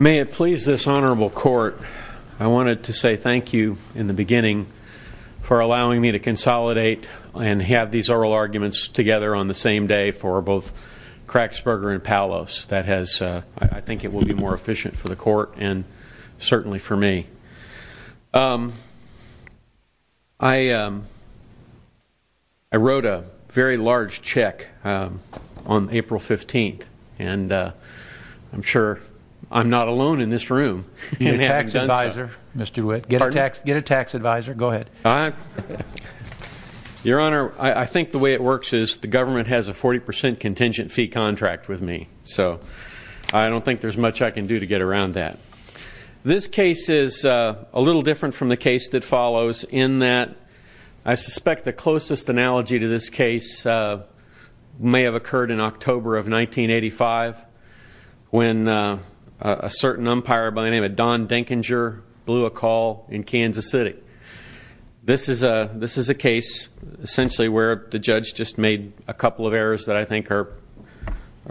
May it please this honorable court, I wanted to say thank you in the beginning for allowing me to consolidate and have these oral arguments together on the same day for both Kraxberger and Paulos. I think it will be more efficient for the court and certainly for me. I wrote a very large check on April 15th, and I'm sure I'm not alone in this room. Get a tax advisor, Mr. Witt. Pardon? Get a tax advisor. Go ahead. Your Honor, I think the way it works is the government has a 40% contingent fee contract with me, so I don't think there's much I can do to get around that. This case is a little different from the case that follows in that I suspect the closest analogy to this case may have occurred in October of 1985 when a certain umpire by the name of Don Dinkinger blew a call in Kansas City. This is a case essentially where the judge just made a couple of errors that I think are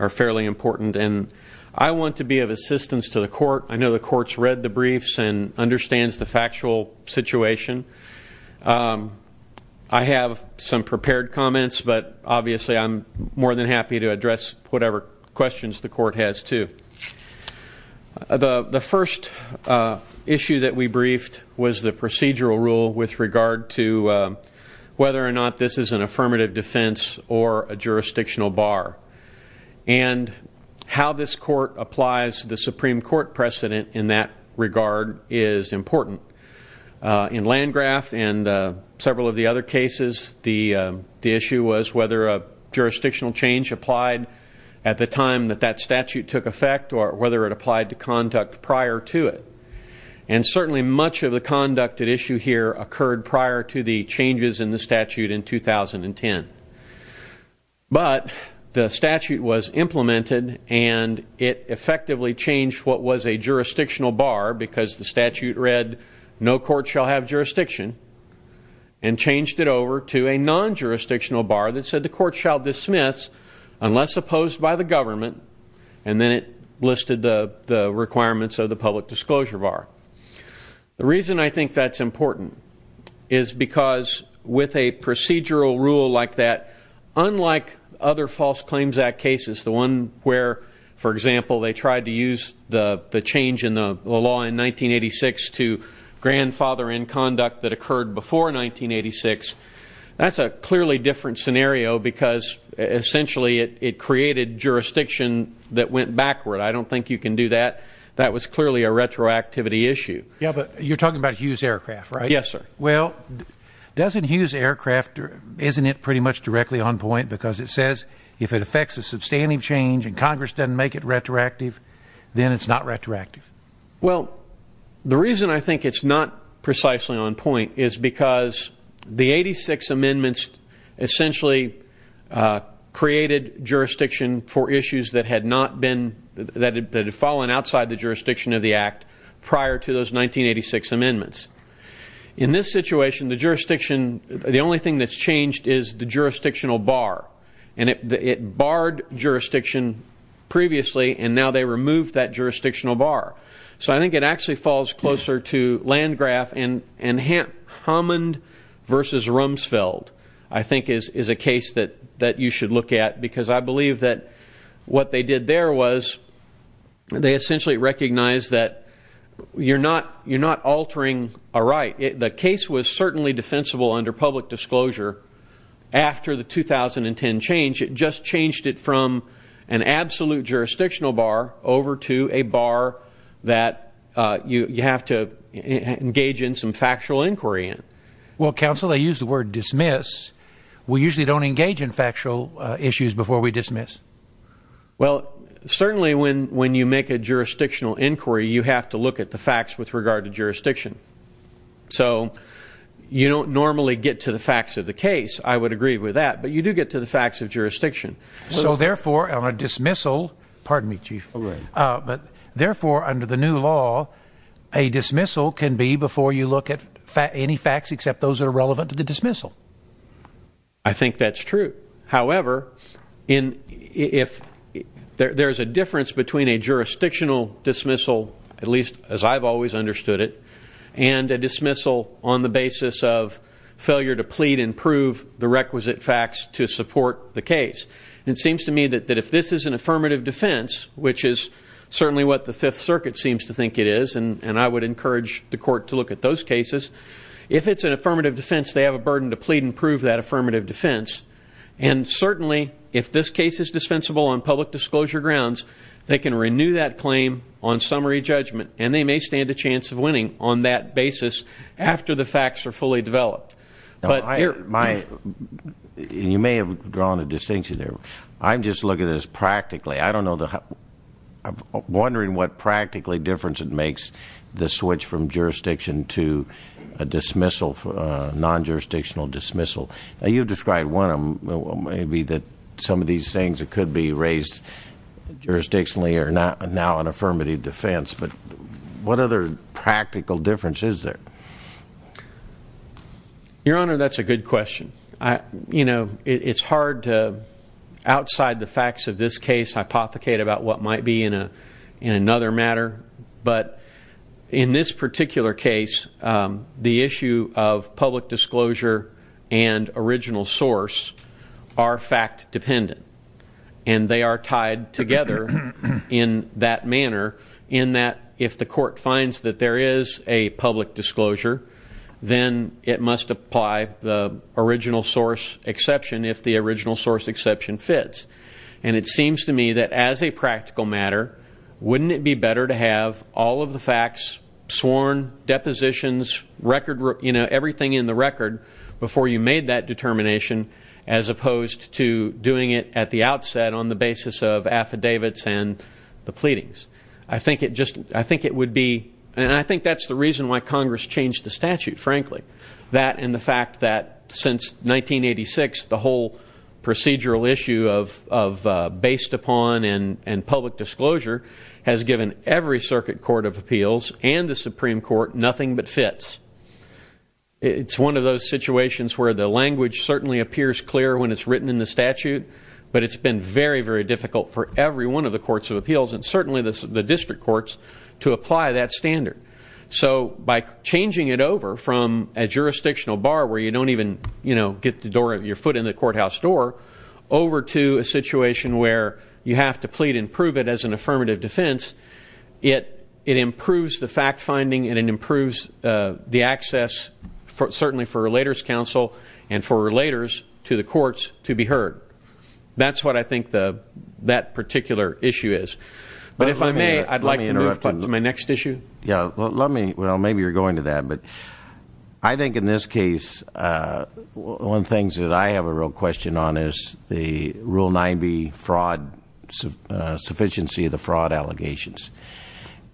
fairly important, and I want to be of assistance to the court. I know the court's read the briefs and understands the factual situation. I have some prepared comments, but obviously I'm more than happy to address whatever questions the court has, too. The first issue that we briefed was the procedural rule with regard to whether or not this is an affirmative defense or a jurisdictional bar, and how this court applies the Supreme Court precedent in that regard is important. In Landgraf and several of the other cases, the issue was whether a jurisdictional change applied at the time that that statute took effect or whether it applied to conduct prior to it. And certainly much of the conduct at issue here occurred prior to the changes in the statute in 2010. But the statute was implemented, and it effectively changed what was a jurisdictional bar because the statute read no court shall have jurisdiction and changed it over to a non-jurisdictional bar that said the court shall dismiss unless opposed by the government, and then it listed the requirements of the public disclosure bar. The reason I think that's important is because with a procedural rule like that, unlike other False Claims Act cases, the one where, for example, they tried to use the change in the law in 1986 to grandfather in conduct that occurred before 1986, that's a clearly different scenario because essentially it created jurisdiction that went backward. I don't think you can do that. That was clearly a retroactivity issue. Yeah, but you're talking about Hughes Aircraft, right? Yes, sir. Well, doesn't Hughes Aircraft, isn't it pretty much directly on point because it says if it affects a substantive change and Congress doesn't make it retroactive, then it's not retroactive? Well, the reason I think it's not precisely on point is because the 86 amendments essentially created jurisdiction for issues that had fallen outside the jurisdiction of the act prior to those 1986 amendments. In this situation, the only thing that's changed is the jurisdictional bar, and it barred jurisdiction previously, and now they removed that jurisdictional bar. So I think it actually falls closer to Landgraf, and Hammond v. Rumsfeld I think is a case that you should look at because I believe that what they did there was they essentially recognized that you're not altering a right. The case was certainly defensible under public disclosure after the 2010 change. It just changed it from an absolute jurisdictional bar over to a bar that you have to engage in some factual inquiry in. Well, counsel, they use the word dismiss. We usually don't engage in factual issues before we dismiss. Well, certainly when you make a jurisdictional inquiry, you have to look at the facts with regard to jurisdiction. So you don't normally get to the facts of the case. I would agree with that, but you do get to the facts of jurisdiction. So therefore, on a dismissal under the new law, a dismissal can be before you look at any facts except those that are relevant to the dismissal. I think that's true. However, if there's a difference between a jurisdictional dismissal, at least as I've always understood it, and a dismissal on the basis of failure to plead and prove the requisite facts to support the case, it seems to me that if this is an affirmative defense, which is certainly what the Fifth Circuit seems to think it is, and I would encourage the court to look at those cases, if it's an affirmative defense, they have a burden to plead and prove that affirmative defense. And certainly if this case is dispensable on public disclosure grounds, they can renew that claim on summary judgment, and they may stand a chance of winning on that basis after the facts are fully developed. You may have drawn a distinction there. I'm just looking at this practically. I'm wondering what practically difference it makes to switch from jurisdiction to a dismissal, non-jurisdictional dismissal. You've described one of them, maybe that some of these things that could be raised jurisdictionally are now an affirmative defense. But what other practical difference is there? Your Honor, that's a good question. You know, it's hard to, outside the facts of this case, hypothecate about what might be in another matter. But in this particular case, the issue of public disclosure and original source are fact dependent, and they are tied together in that manner in that if the court finds that there is a public disclosure, then it must apply the original source exception if the original source exception fits. And it seems to me that as a practical matter, wouldn't it be better to have all of the facts sworn, depositions, everything in the record before you made that determination, as opposed to doing it at the outset on the basis of affidavits and the pleadings? I think it would be, and I think that's the reason why Congress changed the statute, frankly. That and the fact that since 1986, the whole procedural issue of based upon and public disclosure has given every circuit court of appeals and the Supreme Court nothing but fits. It's one of those situations where the language certainly appears clear when it's written in the statute, but it's been very, very difficult for every one of the courts of appeals, and certainly the district courts, to apply that standard. So by changing it over from a jurisdictional bar where you don't even get your foot in the courthouse door, over to a situation where you have to plead and prove it as an affirmative defense, it improves the fact-finding and it improves the access certainly for Relators Council and for Relators to the courts to be heard. That's what I think that particular issue is. But if I may, I'd like to move to my next issue. Well, maybe you're going to that. But I think in this case, one of the things that I have a real question on is the Rule 90 fraud, sufficiency of the fraud allegations.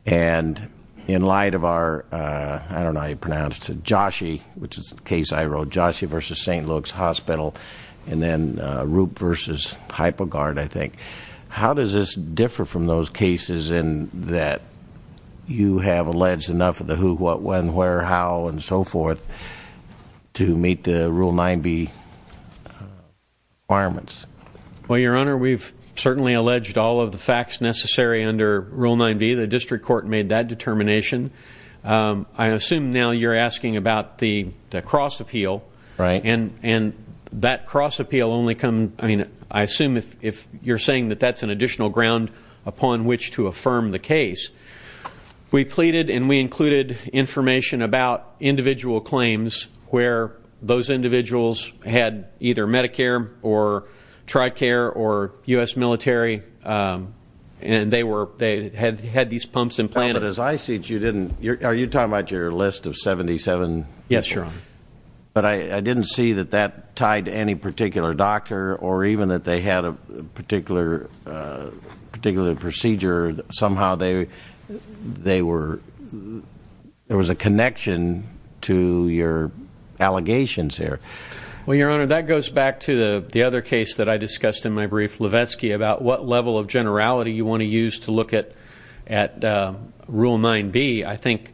And in light of our, I don't know how you pronounce it, Joshi, which is the case I wrote, Joshi v. St. Luke's Hospital, and then Roop v. HypoGuard, I think. How does this differ from those cases in that you have alleged enough of the who, what, when, where, how, and so forth to meet the Rule 90 requirements? Well, Your Honor, we've certainly alleged all of the facts necessary under Rule 90. The district court made that determination. I assume now you're asking about the cross appeal. Right. And that cross appeal only comes, I mean, I assume if you're saying that that's an additional ground upon which to affirm the case. We pleaded and we included information about individual claims where those individuals had either Medicare or TRICARE or U.S. military, and they had these pumps implanted. But as I see it, you didn't. Are you talking about your list of 77? Yes, Your Honor. But I didn't see that that tied to any particular doctor or even that they had a particular procedure. Somehow they were, there was a connection to your allegations here. Well, Your Honor, that goes back to the other case that I discussed in my brief, Levesky, about what level of generality you want to use to look at Rule 9b. I think,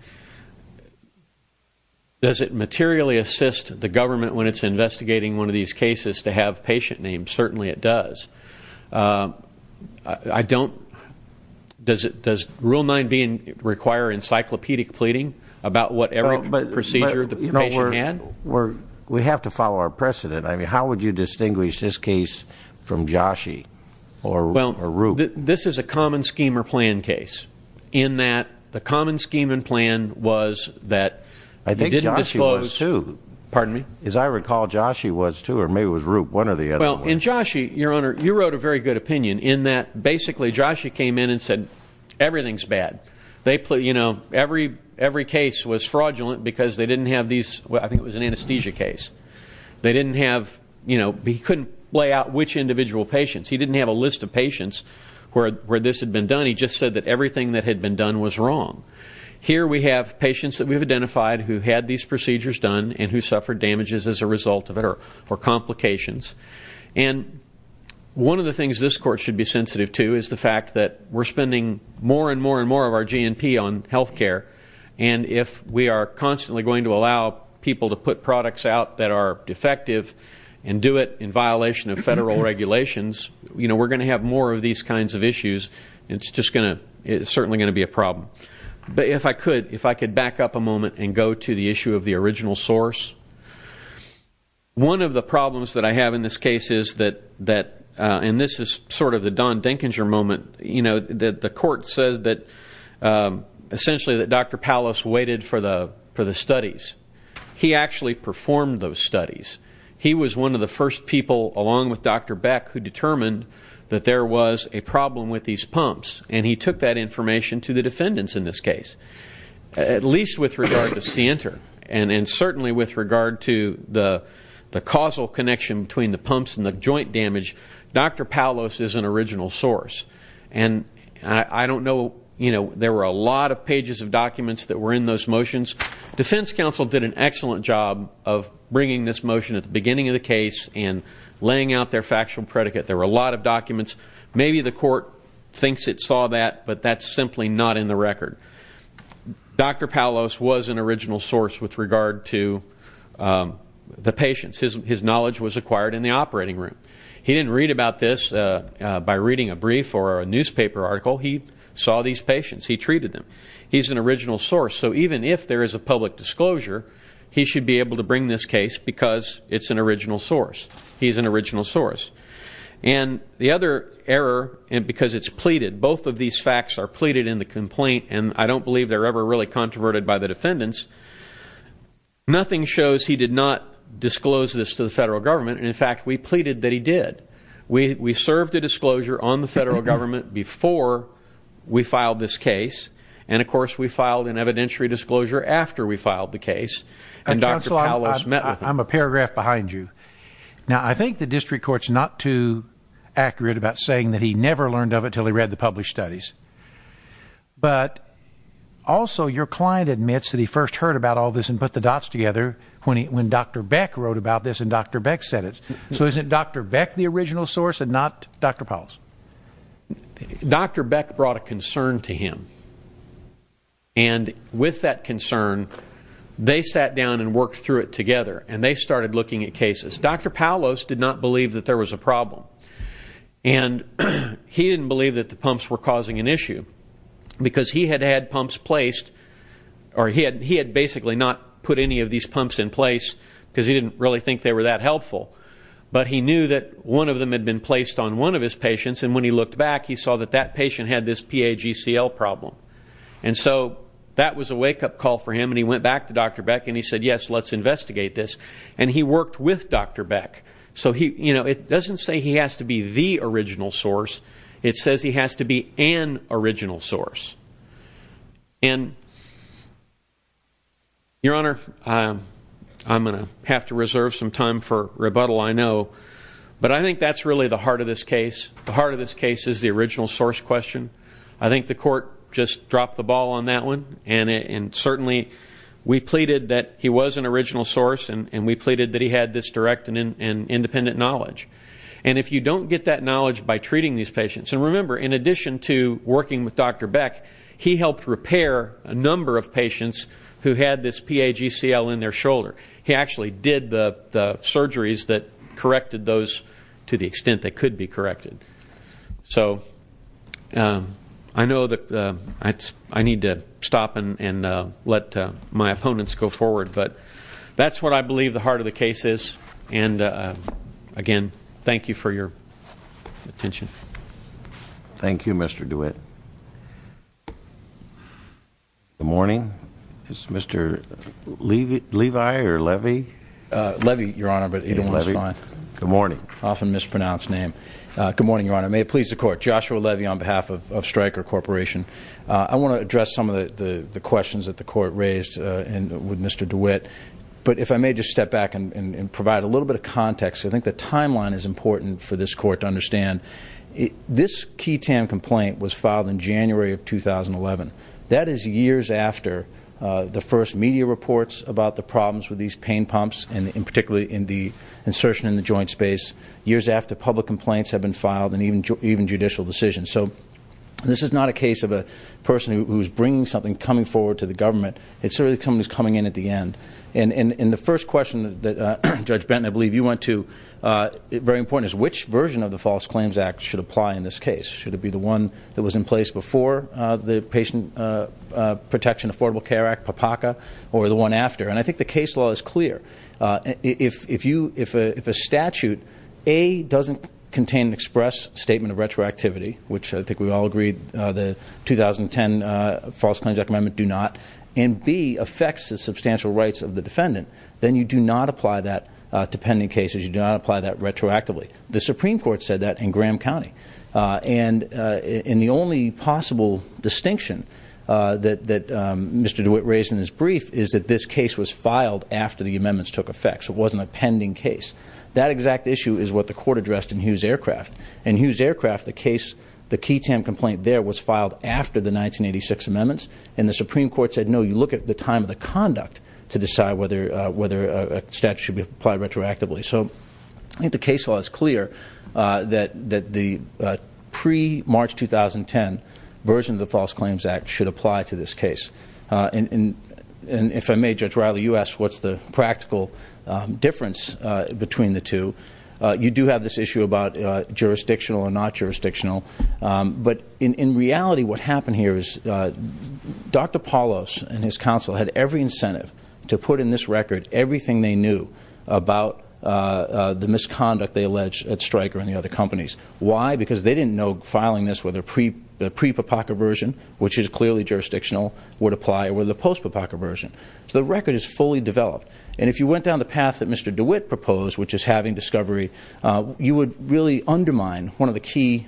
does it materially assist the government when it's investigating one of these cases to have patient names? Certainly it does. I don't, does Rule 9b require encyclopedic pleading about whatever procedure the patient had? We have to follow our precedent. I mean, how would you distinguish this case from Joshi or Roop? This is a common scheme or plan case in that the common scheme and plan was that you didn't disclose. I think Joshi was, too. Pardon me? As I recall, Joshi was, too, or maybe it was Roop, one or the other. Well, in Joshi, Your Honor, you wrote a very good opinion in that basically Joshi came in and said everything's bad. They, you know, every case was fraudulent because they didn't have these, I think it was an anesthesia case. They didn't have, you know, he couldn't lay out which individual patients. He didn't have a list of patients where this had been done. He just said that everything that had been done was wrong. Here we have patients that we've identified who had these procedures done and who suffered damages as a result of it or complications. And one of the things this Court should be sensitive to is the fact that we're spending more and more and more of our GNP on health care, and if we are constantly going to allow people to put products out that are defective and do it in violation of federal regulations, you know, we're going to have more of these kinds of issues. It's just going to be a problem. But if I could back up a moment and go to the issue of the original source, one of the problems that I have in this case is that, and this is sort of the Don Dinkinser moment, you know, the Court says that essentially that Dr. Palos waited for the studies. He actually performed those studies. He was one of the first people, along with Dr. Beck, who determined that there was a problem with these pumps, and he took that information to the defendants in this case, at least with regard to Sienter and certainly with regard to the causal connection between the pumps and the joint damage. Dr. Palos is an original source, and I don't know, you know, there were a lot of pages of documents that were in those motions. Defense counsel did an excellent job of bringing this motion at the beginning of the case and laying out their factual predicate. There were a lot of documents. Maybe the Court thinks it saw that, but that's simply not in the record. Dr. Palos was an original source with regard to the patients. His knowledge was acquired in the operating room. He didn't read about this by reading a brief or a newspaper article. He saw these patients. He treated them. He's an original source. So even if there is a public disclosure, he should be able to bring this case because it's an original source. He's an original source. And the other error, because it's pleaded, both of these facts are pleaded in the complaint, and I don't believe they're ever really controverted by the defendants. Nothing shows he did not disclose this to the Federal Government, and, in fact, we pleaded that he did. We served a disclosure on the Federal Government before we filed this case, and, of course, we filed an evidentiary disclosure after we filed the case, and Dr. Palos met with him. Counsel, I'm a paragraph behind you. Now, I think the district court's not too accurate about saying that he never learned of it until he read the published studies, but also your client admits that he first heard about all this and put the dots together when Dr. Beck wrote about this and Dr. Beck said it. So isn't Dr. Beck the original source and not Dr. Palos? Dr. Beck brought a concern to him, and with that concern, they sat down and worked through it together, and they started looking at cases. Dr. Palos did not believe that there was a problem, and he didn't believe that the pumps were causing an issue because he had had pumps placed, or he had basically not put any of these pumps in place because he didn't really think they were that helpful, but he knew that one of them had been placed on one of his patients, and when he looked back, he saw that that patient had this PAGCL problem. And so that was a wake-up call for him, and he went back to Dr. Beck, and he said, yes, let's investigate this, and he worked with Dr. Beck. So, you know, it doesn't say he has to be the original source. It says he has to be an original source. And, Your Honor, I'm going to have to reserve some time for rebuttal, I know, but I think that's really the heart of this case. The heart of this case is the original source question. I think the court just dropped the ball on that one, and certainly we pleaded that he was an original source, and we pleaded that he had this direct and independent knowledge. And if you don't get that knowledge by treating these patients, and remember, in addition to working with Dr. Beck, he helped repair a number of patients who had this PAGCL in their shoulder. He actually did the surgeries that corrected those to the extent they could be corrected. So I know that I need to stop and let my opponents go forward, but that's what I believe the heart of the case is. And, again, thank you for your attention. Thank you, Mr. DeWitt. Good morning. Is Mr. Levi or Levy? Levy, Your Honor, but either one is fine. Good morning. Often mispronounced name. Good morning, Your Honor. May it please the Court. Joshua Levy on behalf of Stryker Corporation. I want to address some of the questions that the Court raised with Mr. DeWitt, but if I may just step back and provide a little bit of context. I think the timeline is important for this Court to understand. This key TAM complaint was filed in January of 2011. That is years after the first media reports about the problems with these pain pumps, and particularly in the insertion in the joint space, years after public complaints have been filed and even judicial decisions. So this is not a case of a person who is bringing something, coming forward to the government. It's really someone who is coming in at the end. And the first question that, Judge Benton, I believe you went to, very important, is which version of the False Claims Act should apply in this case? Should it be the one that was in place before the Patient Protection Affordable Care Act, PAPACA, or the one after? And I think the case law is clear. If a statute, A, doesn't contain an express statement of retroactivity, which I think we all agree the 2010 False Claims Act Amendment do not, and, B, affects the substantial rights of the defendant, then you do not apply that to pending cases. You do not apply that retroactively. The Supreme Court said that in Graham County. And the only possible distinction that Mr. DeWitt raised in his brief is that this case was filed after the amendments took effect, so it wasn't a pending case. That exact issue is what the Court addressed in Hughes Aircraft. In Hughes Aircraft, the case, the key TAM complaint there was filed after the 1986 amendments, and the Supreme Court said no, you look at the time of the conduct to decide whether a statute should be applied retroactively. So I think the case law is clear that the pre-March 2010 version of the False Claims Act should apply to this case. And if I may, Judge Riley, you asked what's the practical difference between the two. You do have this issue about jurisdictional or not jurisdictional, but in reality what happened here is Dr. Paulos and his counsel had every incentive to put in this record everything they knew about the misconduct they alleged at Stryker and the other companies. Why? Because they didn't know filing this with a pre-PAPACA version, which is clearly jurisdictional, would apply or with a post-PAPACA version. So the record is fully developed. And if you went down the path that Mr. DeWitt proposed, which is having discovery, you would really undermine one of the key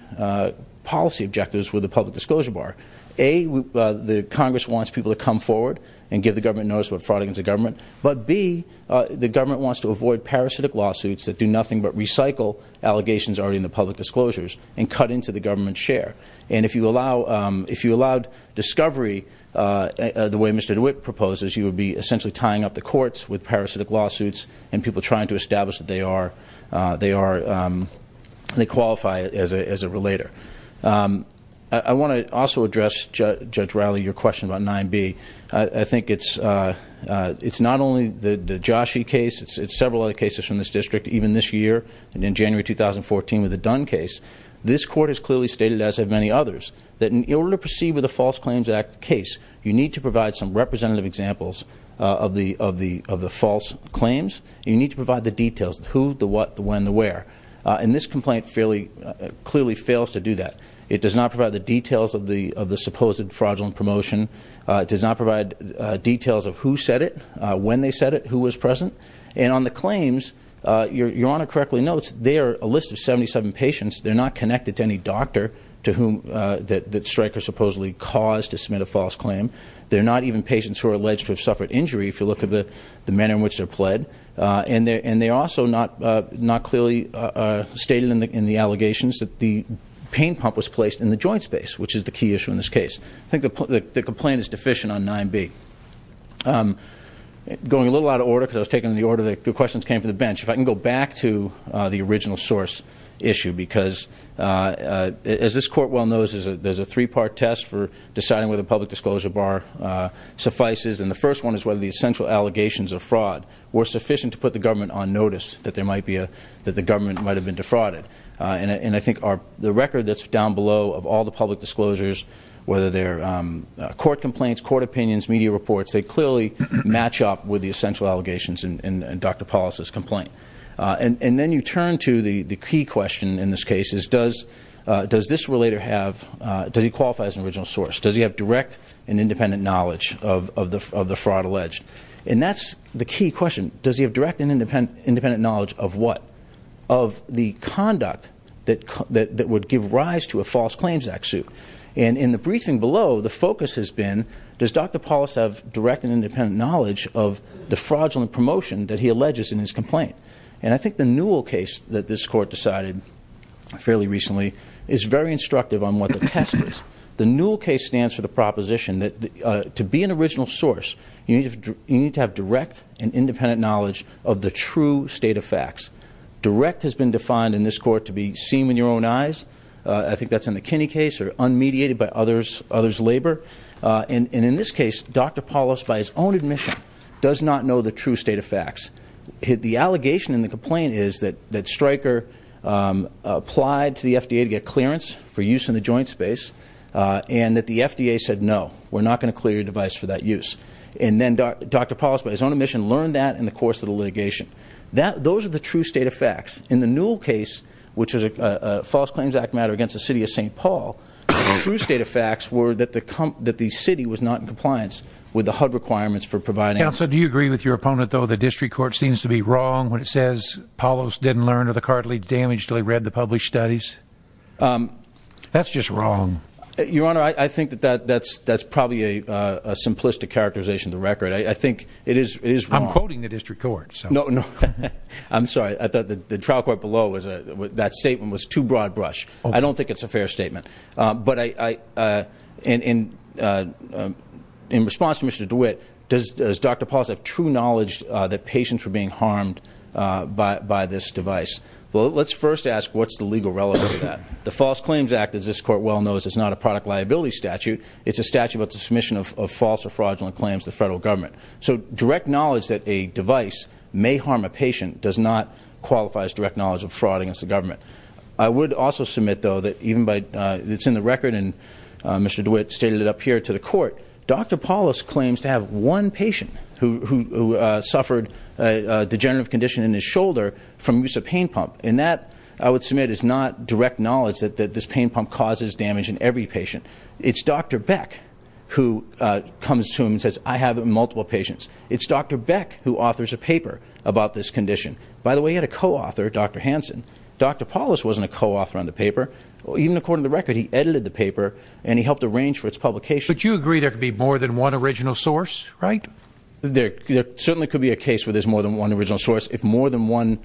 policy objectives with the public disclosure bar. A, the Congress wants people to come forward and give the government notice about fraud against the government, but B, the government wants to avoid parasitic lawsuits that do nothing but recycle allegations already in the public disclosures and cut into the government's share. And if you allowed discovery the way Mr. DeWitt proposed, you would be essentially tying up the courts with parasitic lawsuits and people trying to establish that they qualify as a relator. I want to also address, Judge Rowley, your question about 9B. I think it's not only the Joshi case. It's several other cases from this district, even this year, and in January 2014 with the Dunn case. This court has clearly stated, as have many others, that in order to proceed with a False Claims Act case, you need to provide some representative examples of the false claims. You need to provide the details of who, the what, the when, the where. And this complaint clearly fails to do that. It does not provide the details of the supposed fraudulent promotion. It does not provide details of who said it, when they said it, who was present. And on the claims, Your Honor correctly notes, they are a list of 77 patients. They're not connected to any doctor that Stryker supposedly caused to submit a false claim. They're not even patients who are alleged to have suffered injury, if you look at the manner in which they're pled. And they're also not clearly stated in the allegations that the pain pump was placed in the joint space, which is the key issue in this case. I think the complaint is deficient on 9B. Going a little out of order, because I was taking the order, the questions came from the bench. If I can go back to the original source issue, because as this court well knows, there's a three-part test for deciding whether a public disclosure bar suffices. And the first one is whether the essential allegations of fraud were sufficient to put the government on notice that the government might have been defrauded. And I think the record that's down below of all the public disclosures, whether they're court complaints, court opinions, media reports, they clearly match up with the essential allegations in Dr. Paulos' complaint. And then you turn to the key question in this case is, does this relator have, does he qualify as an original source? Does he have direct and independent knowledge of the fraud alleged? And that's the key question. Does he have direct and independent knowledge of what? Of the conduct that would give rise to a false claims act suit. And in the briefing below, the focus has been, does Dr. Paulos have direct and independent knowledge of the fraudulent promotion that he alleges in his complaint? And I think the Newell case that this court decided fairly recently is very instructive on what the test is. The Newell case stands for the proposition that to be an original source, you need to have direct and independent knowledge of the true state of facts. Direct has been defined in this court to be seen with your own eyes. I think that's in the Kinney case, or unmediated by others' labor. And in this case, Dr. Paulos, by his own admission, does not know the true state of facts. The allegation in the complaint is that Stryker applied to the FDA to get clearance for use in the joint space. And that the FDA said, no, we're not going to clear your device for that use. And then Dr. Paulos, by his own admission, learned that in the course of the litigation. Those are the true state of facts. In the Newell case, which is a False Claims Act matter against the city of St. Paul, the true state of facts were that the city was not in compliance with the HUD requirements for providing. Counsel, do you agree with your opponent, though, that the district court seems to be wrong when it says Paulos didn't learn of the cartilage damage until he read the published studies? That's just wrong. Your Honor, I think that that's probably a simplistic characterization of the record. I think it is wrong. I'm quoting the district court. No, no. I'm sorry. I thought the trial court below, that statement was too broad brush. I don't think it's a fair statement. But in response to Mr. DeWitt, does Dr. Paulos have true knowledge that patients were being harmed by this device? Well, let's first ask what's the legal relevance of that. The False Claims Act, as this court well knows, is not a product liability statute. It's a statute about the submission of false or fraudulent claims to the federal government. So direct knowledge that a device may harm a patient does not qualify as direct knowledge of fraud against the government. I would also submit, though, that even by it's in the record, and Mr. DeWitt stated it up here to the court, Dr. Paulos claims to have one patient who suffered a degenerative condition in his shoulder from use of pain pump. And that, I would submit, is not direct knowledge that this pain pump causes damage in every patient. It's Dr. Beck who comes to him and says, I have multiple patients. It's Dr. Beck who authors a paper about this condition. By the way, he had a co-author, Dr. Hansen. Dr. Paulos wasn't a co-author on the paper. Even according to the record, he edited the paper and he helped arrange for its publication. But you agree there could be more than one original source, right? There certainly could be a case where there's more than one original source. If more than one,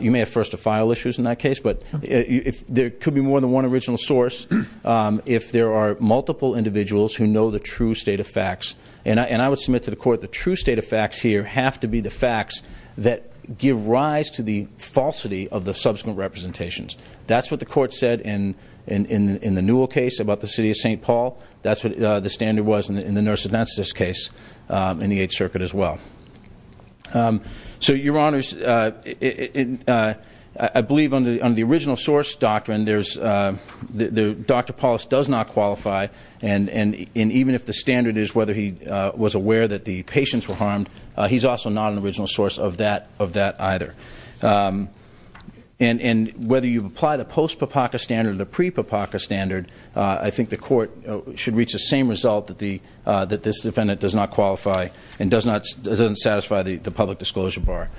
you may have first-of-file issues in that case. But there could be more than one original source if there are multiple individuals who know the true state of facts. And I would submit to the court the true state of facts here have to be the facts that give rise to the falsity of the subsequent representations. That's what the court said in the Newell case about the city of St. Paul. That's what the standard was in the nurse anesthetist case in the Eighth Circuit as well. So, Your Honors, I believe under the original source doctrine, Dr. Paulos does not qualify. And even if the standard is whether he was aware that the patients were harmed, he's also not an original source of that either. And whether you apply the post-PAPACA standard or the pre-PAPACA standard, I think the court should reach the same result that this defendant does not qualify and doesn't satisfy the public disclosure bar.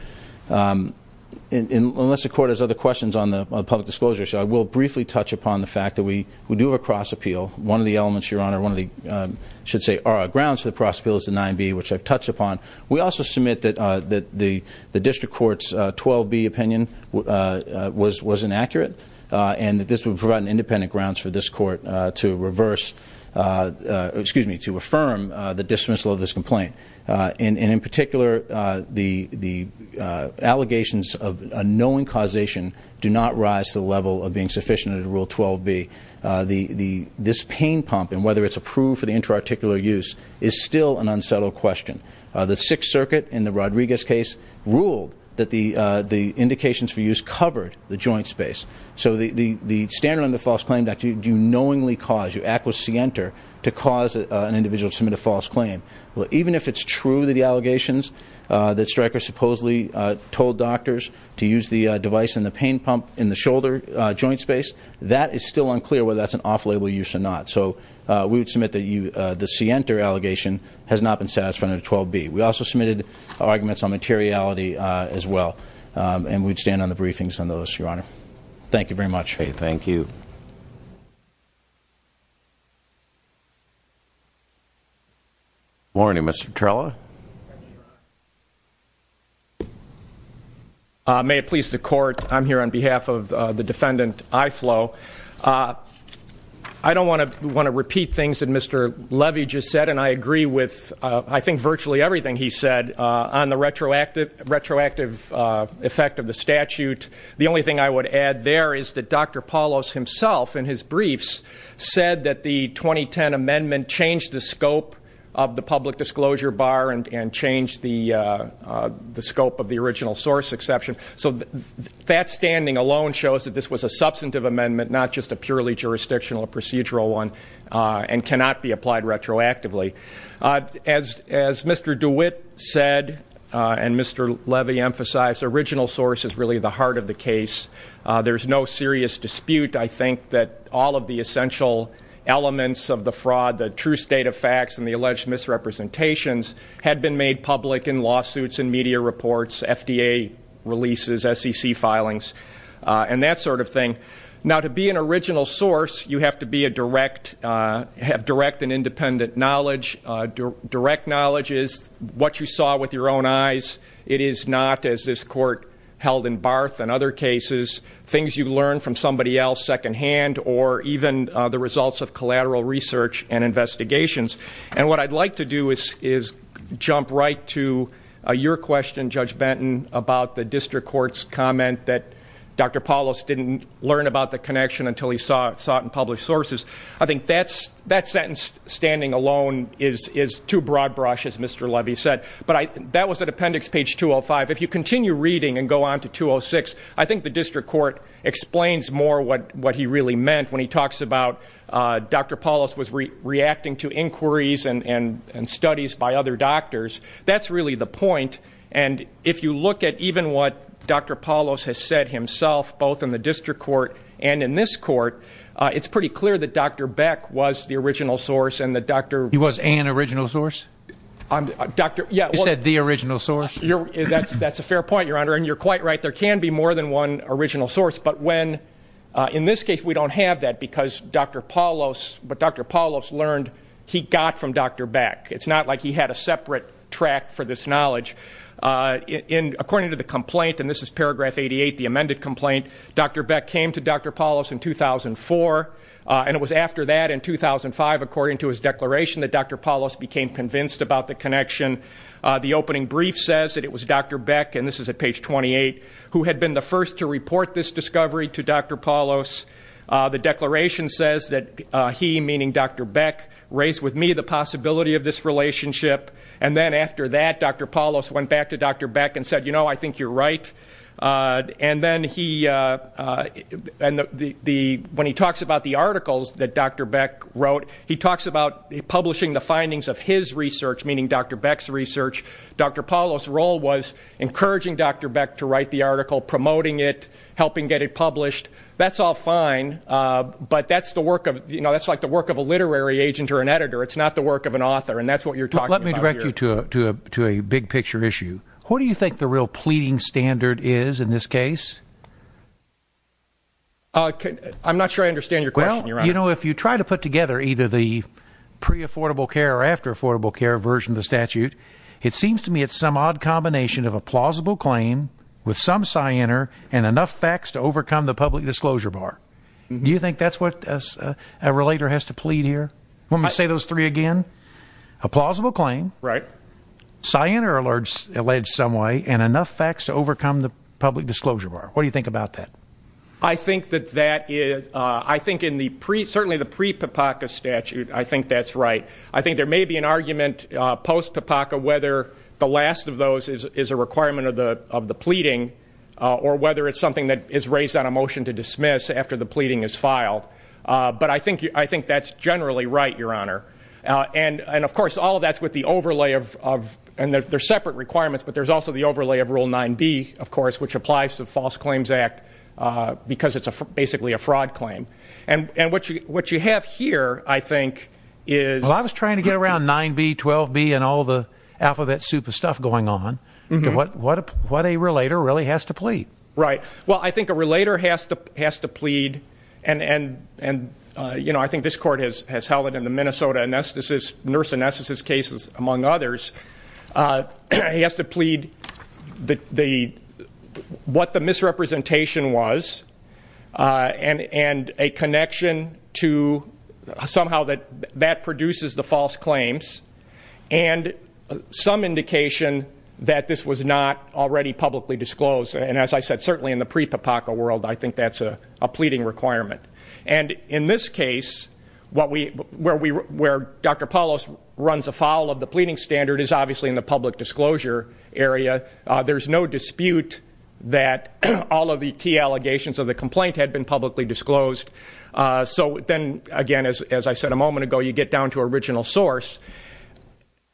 Unless the court has other questions on the public disclosure, I will briefly touch upon the fact that we do have a cross-appeal. One of the elements, Your Honor, one of the, I should say, grounds for the cross-appeal is the 9B, which I've touched upon. We also submit that the district court's 12B opinion was inaccurate. And that this would provide an independent grounds for this court to reverse, excuse me, to affirm the dismissal of this complaint. And in particular, the allegations of unknowing causation do not rise to the level of being sufficient under Rule 12B. This pain pump, and whether it's approved for the intra-articular use, is still an unsettled question. The Sixth Circuit, in the Rodriguez case, ruled that the indications for use covered the joint space. So the standard on the false claim that you knowingly cause, you acquiescenter, to cause an individual to submit a false claim. Well, even if it's true that the allegations that Stryker supposedly told doctors to use the device in the pain pump in the shoulder joint space, that is still unclear whether that's an off-label use or not. And so we would submit that the Sienter allegation has not been satisfied under 12B. We also submitted arguments on materiality as well. And we'd stand on the briefings on those, Your Honor. Thank you very much. Thank you. Morning, Mr. Trella. May it please the Court, I'm here on behalf of the defendant, Iflo. I don't want to repeat things that Mr. Levy just said, and I agree with I think virtually everything he said on the retroactive effect of the statute. The only thing I would add there is that Dr. Paulos himself, in his briefs, said that the 2010 amendment changed the scope of the public disclosure bar and changed the scope of the original source exception. So that standing alone shows that this was a substantive amendment, not just a purely jurisdictional procedural one, and cannot be applied retroactively. As Mr. DeWitt said and Mr. Levy emphasized, the original source is really the heart of the case. There's no serious dispute, I think, that all of the essential elements of the fraud, the true state of facts and the alleged misrepresentations, had been made public in lawsuits and media reports, FDA releases, SEC filings, and that sort of thing. Now, to be an original source, you have to have direct and independent knowledge. Direct knowledge is what you saw with your own eyes. It is not, as this Court held in Barth and other cases, things you learned from somebody else secondhand or even the results of collateral research and investigations. And what I'd like to do is jump right to your question, Judge Benton, about the district court's comment that Dr. Paulos didn't learn about the connection until he saw it in published sources. I think that sentence, standing alone, is too broad brush, as Mr. Levy said. But that was at appendix page 205. If you continue reading and go on to 206, I think the district court explains more what he really meant when he talks about Dr. Paulos was reacting to inquiries and studies by other doctors. That's really the point, and if you look at even what Dr. Paulos has said himself, both in the district court and in this court, it's pretty clear that Dr. Beck was the original source and that Dr. He was an original source? Dr. He said the original source? That's a fair point, Your Honor, and you're quite right. There can be more than one original source, but in this case we don't have that because Dr. Paulos learned he got from Dr. Beck. It's not like he had a separate tract for this knowledge. According to the complaint, and this is paragraph 88, the amended complaint, Dr. Beck came to Dr. Paulos in 2004, and it was after that in 2005, according to his declaration, that Dr. Paulos became convinced about the connection. The opening brief says that it was Dr. Beck, and this is at page 28, who had been the first to report this discovery to Dr. Paulos. The declaration says that he, meaning Dr. Beck, raised with me the possibility of this relationship, and then after that Dr. Paulos went back to Dr. Beck and said, you know, I think you're right. And then when he talks about the articles that Dr. Beck's research, Dr. Paulos' role was encouraging Dr. Beck to write the article, promoting it, helping get it published. That's all fine, but that's the work of, you know, that's like the work of a literary agent or an editor. It's not the work of an author, and that's what you're talking about here. Let me direct you to a big-picture issue. What do you think the real pleading standard is in this case? I'm not sure I understand your question, Your Honor. Well, you know, if you try to put together either the pre-affordable care or the after-affordable care version of the statute, it seems to me it's some odd combination of a plausible claim with some cyanar and enough facts to overcome the public disclosure bar. Do you think that's what a relator has to plead here? Want me to say those three again? A plausible claim. Right. Cyanar alleged some way and enough facts to overcome the public disclosure bar. What do you think about that? I think that that is ñ I think in the ñ certainly the prepapaca statute, I think that's right. I think there may be an argument post-papaca whether the last of those is a requirement of the pleading or whether it's something that is raised on a motion to dismiss after the pleading is filed. But I think that's generally right, Your Honor. And, of course, all of that's with the overlay of ñ and they're separate requirements, but there's also the overlay of Rule 9b, of course, which applies to the False Claims Act because it's basically a fraud claim. And what you have here, I think, is ñ Well, I was trying to get around 9b, 12b, and all the alphabet soup of stuff going on. What a relator really has to plead? Right. Well, I think a relator has to plead, and, you know, I think this court has held it in the Minnesota anesthesis ñ nurse anesthesis cases, among others. He has to plead the ñ what the misrepresentation was and a connection to somehow that produces the false claims and some indication that this was not already publicly disclosed. And as I said, certainly in the pre-PAPACA world, I think that's a pleading requirement. And in this case, where Dr. Palos runs afoul of the pleading standard is obviously in the public disclosure area. There's no dispute that all of the key allegations of the complaint had been publicly disclosed. So then, again, as I said a moment ago, you get down to original source.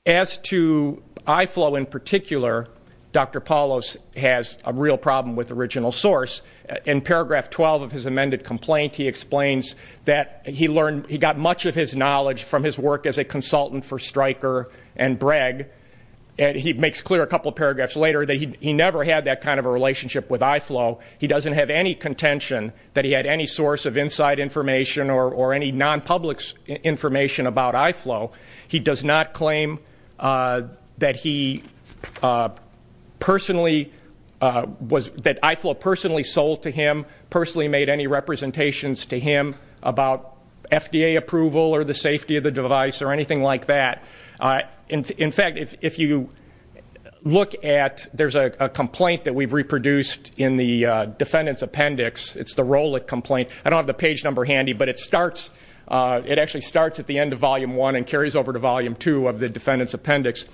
As to IFLO in particular, Dr. Palos has a real problem with original source. In paragraph 12 of his amended complaint, he explains that he got much of his knowledge from his work as a consultant for Stryker and Breg. He makes clear a couple of paragraphs later that he never had that kind of a relationship with IFLO. He doesn't have any contention that he had any source of inside information or any non-public information about IFLO. He does not claim that he personally was ñ that IFLO personally sold to him, personally made any representations to him about FDA approval or the safety of the device or anything like that. In fact, if you look at ñ there's a complaint that we've reproduced in the defendant's appendix. It's the Rowlett complaint. I don't have the page number handy, but it starts ñ it actually starts at the end of Volume 1 and carries over to Volume 2 of the defendant's appendix.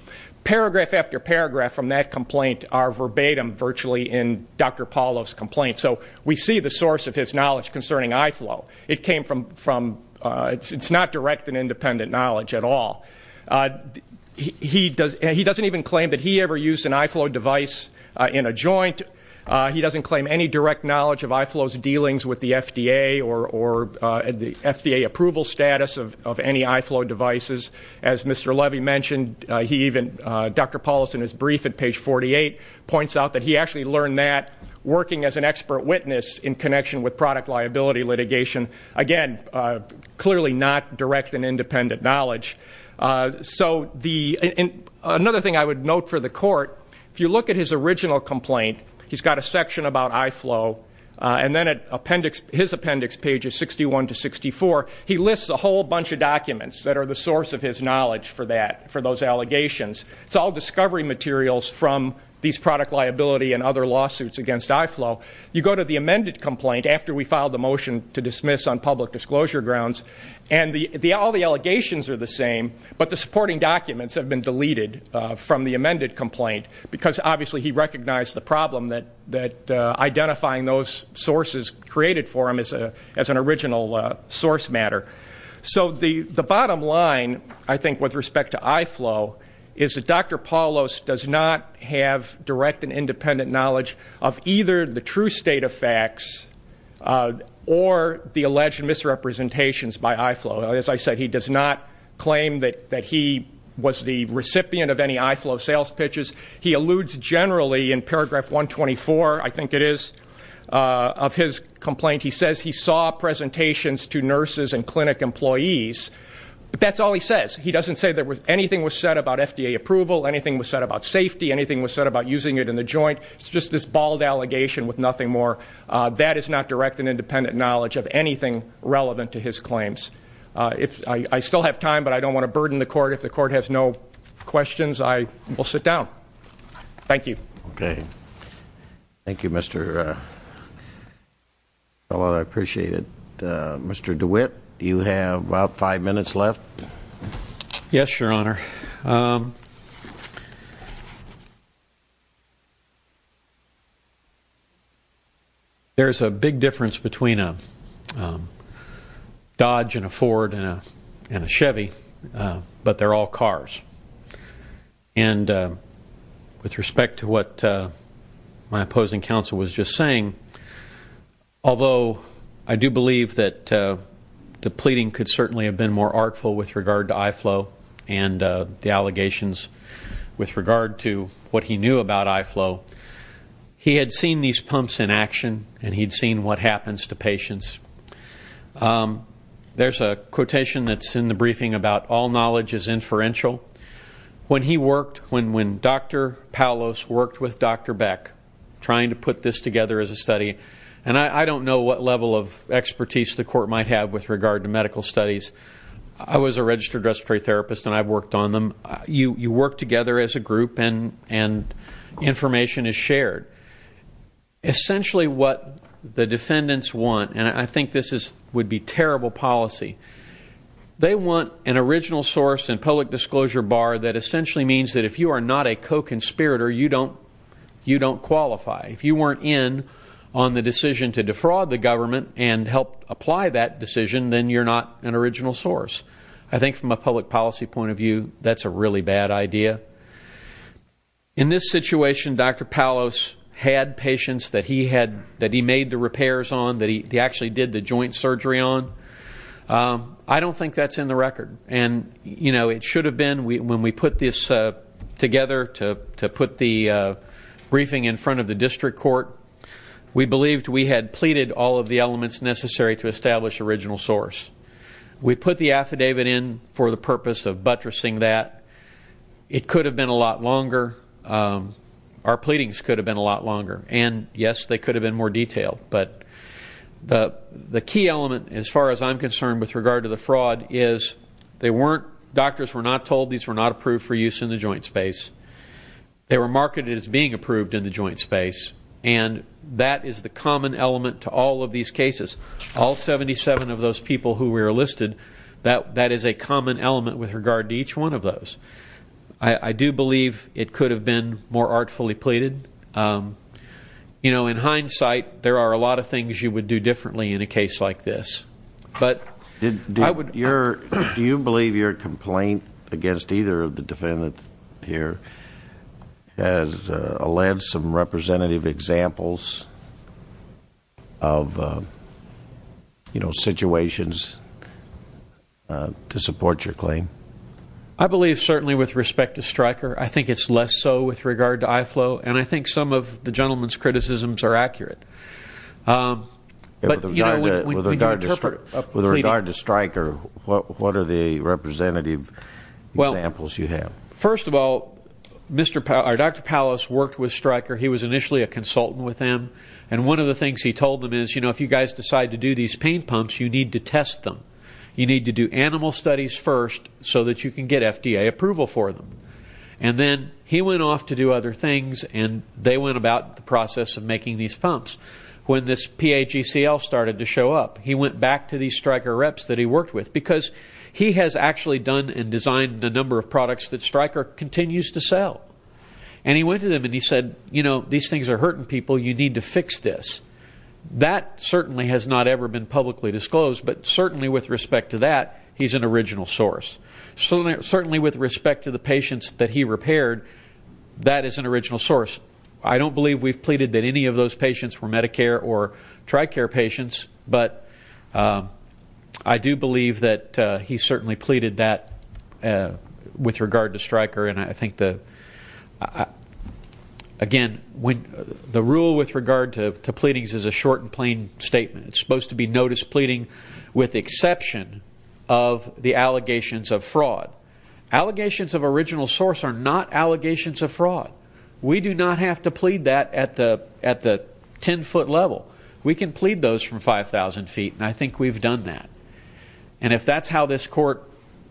Paragraph after paragraph from that complaint are verbatim virtually in Dr. Palos' complaint. So we see the source of his knowledge concerning IFLO. It came from ñ it's not direct and independent knowledge at all. He doesn't even claim that he ever used an IFLO device in a joint. He doesn't claim any direct knowledge of IFLO's dealings with the FDA or the FDA approval status of any IFLO devices. As Mr. Levy mentioned, he even ñ Dr. Palos in his brief at page 48 points out that he actually learned that working as an expert witness in connection with product liability litigation. Again, clearly not direct and independent knowledge. So the ñ and another thing I would note for the court, if you look at his original complaint, he's got a section about IFLO, and then at appendix ñ his appendix, pages 61 to 64, he lists a whole bunch of documents that are the source of his knowledge for that ñ for those allegations. It's all discovery materials from these product liability and other lawsuits against IFLO. You go to the amended complaint after we filed the motion to dismiss on public disclosure grounds, and the ñ all the allegations are the same, but the supporting documents have been deleted from the amended complaint, because obviously he recognized the problem that identifying those sources created for him as an original source matter. So the bottom line, I think, with respect to IFLO, is that Dr. Palos does not have direct and independent knowledge of either the true state of facts or the alleged misrepresentations by IFLO. As I said, he does not claim that he was the recipient of any IFLO sales pitches. He alludes generally in paragraph 124, I think it is, of his complaint. He says he saw presentations to nurses and clinic employees, but that's all he says. He doesn't say there was ñ anything was said about FDA approval, anything was said about safety, anything was said about using it in the joint. It's just this bald allegation with nothing more. That is not direct and independent knowledge of anything relevant to his claims. If ñ I still have time, but I don't want to burden the court. If the court has no questions, I will sit down. Thank you. Okay. Thank you, Mr. Palos. I appreciate it. Mr. DeWitt, you have about five minutes left. Yes, Your Honor. There's a big difference between a Dodge and a Ford and a Chevy, but they're all cars. And with respect to what my opposing counsel was just saying, although I do believe that the pleading could certainly have been more artful with regard to IFLO and the allegations with regard to what he knew about IFLO, he had seen these pumps in action and he'd seen what happens to patients. There's a quotation that's in the briefing about all knowledge is inferential. When he worked ñ when Dr. Palos worked with Dr. Beck trying to put this together as a study ñ and I don't know what level of expertise the court might have with regard to medical studies. I was a registered respiratory therapist and I've worked on them. You work together as a group and information is shared. Essentially what the defendants want, and I think this would be terrible policy, they want an original source and public disclosure bar that essentially means that if you are not a co-conspirator, you don't qualify. If you weren't in on the decision to defraud the government and help apply that decision, then you're not an original source. I think from a public policy point of view, that's a really bad idea. In this situation, Dr. Palos had patients that he made the repairs on, that he actually did the joint surgery on. I don't think that's in the record. It should have been. When we put this together to put the briefing in front of the district court, we believed we had pleaded all of the elements necessary to establish original source. We put the affidavit in for the purpose of buttressing that. It could have been a lot longer. Our pleadings could have been a lot longer. And, yes, they could have been more detailed. But the key element as far as I'm concerned with regard to the fraud is they weren't, doctors were not told these were not approved for use in the joint space. They were marketed as being approved in the joint space, and that is the common element to all of these cases. All 77 of those people who were enlisted, that is a common element with regard to each one of those. I do believe it could have been more artfully pleaded. You know, in hindsight, there are a lot of things you would do differently in a case like this. Do you believe your complaint against either of the defendants here has alleged some representative examples of, you know, situations to support your claim? I believe certainly with respect to Stryker. I think it's less so with regard to IFLO. And I think some of the gentleman's criticisms are accurate. With regard to Stryker, what are the representative examples you have? Well, first of all, Dr. Pallas worked with Stryker. He was initially a consultant with them. And one of the things he told them is, you know, if you guys decide to do these pain pumps, you need to test them. You need to do animal studies first so that you can get FDA approval for them. And then he went off to do other things, and they went about the process of making these pumps. When this PAGCL started to show up, he went back to these Stryker reps that he worked with because he has actually done and designed a number of products that Stryker continues to sell. And he went to them, and he said, you know, these things are hurting people. You need to fix this. That certainly has not ever been publicly disclosed, but certainly with respect to that, he's an original source. Certainly with respect to the patients that he repaired, that is an original source. I don't believe we've pleaded that any of those patients were Medicare or TRICARE patients, but I do believe that he certainly pleaded that with regard to Stryker. And I think, again, the rule with regard to pleadings is a short and plain statement. It's supposed to be notice pleading with exception of the allegations of fraud. Allegations of original source are not allegations of fraud. We do not have to plead that at the 10-foot level. We can plead those from 5,000 feet, and I think we've done that. And if that's how this court,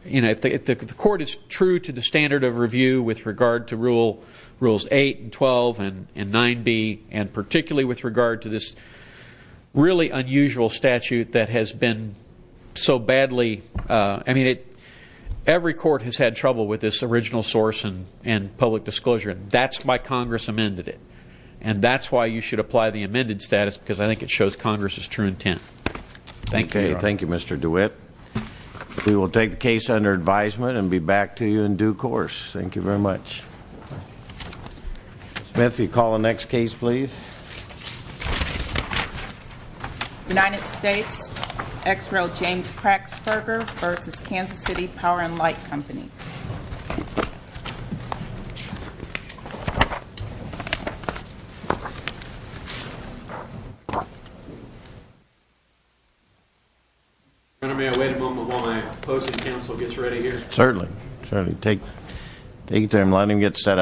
you know, if the court is true to the standard of review with regard to Rules 8 and 12 and 9b, and particularly with regard to this really unusual statute that has been so badly I mean, every court has had trouble with this original source and public disclosure, and that's why Congress amended it. And that's why you should apply the amended status, because I think it shows Congress's true intent. Thank you, Your Honor. Okay, thank you, Mr. DeWitt. We will take the case under advisement and be back to you in due course. Thank you very much. Ms. Smith, will you call the next case, please? United States, ex-rail James Kraxberger v. Kansas City Power and Light Company. Your Honor, may I wait a moment while my opposing counsel gets ready here? Certainly, certainly. Take your time. Let him get set up.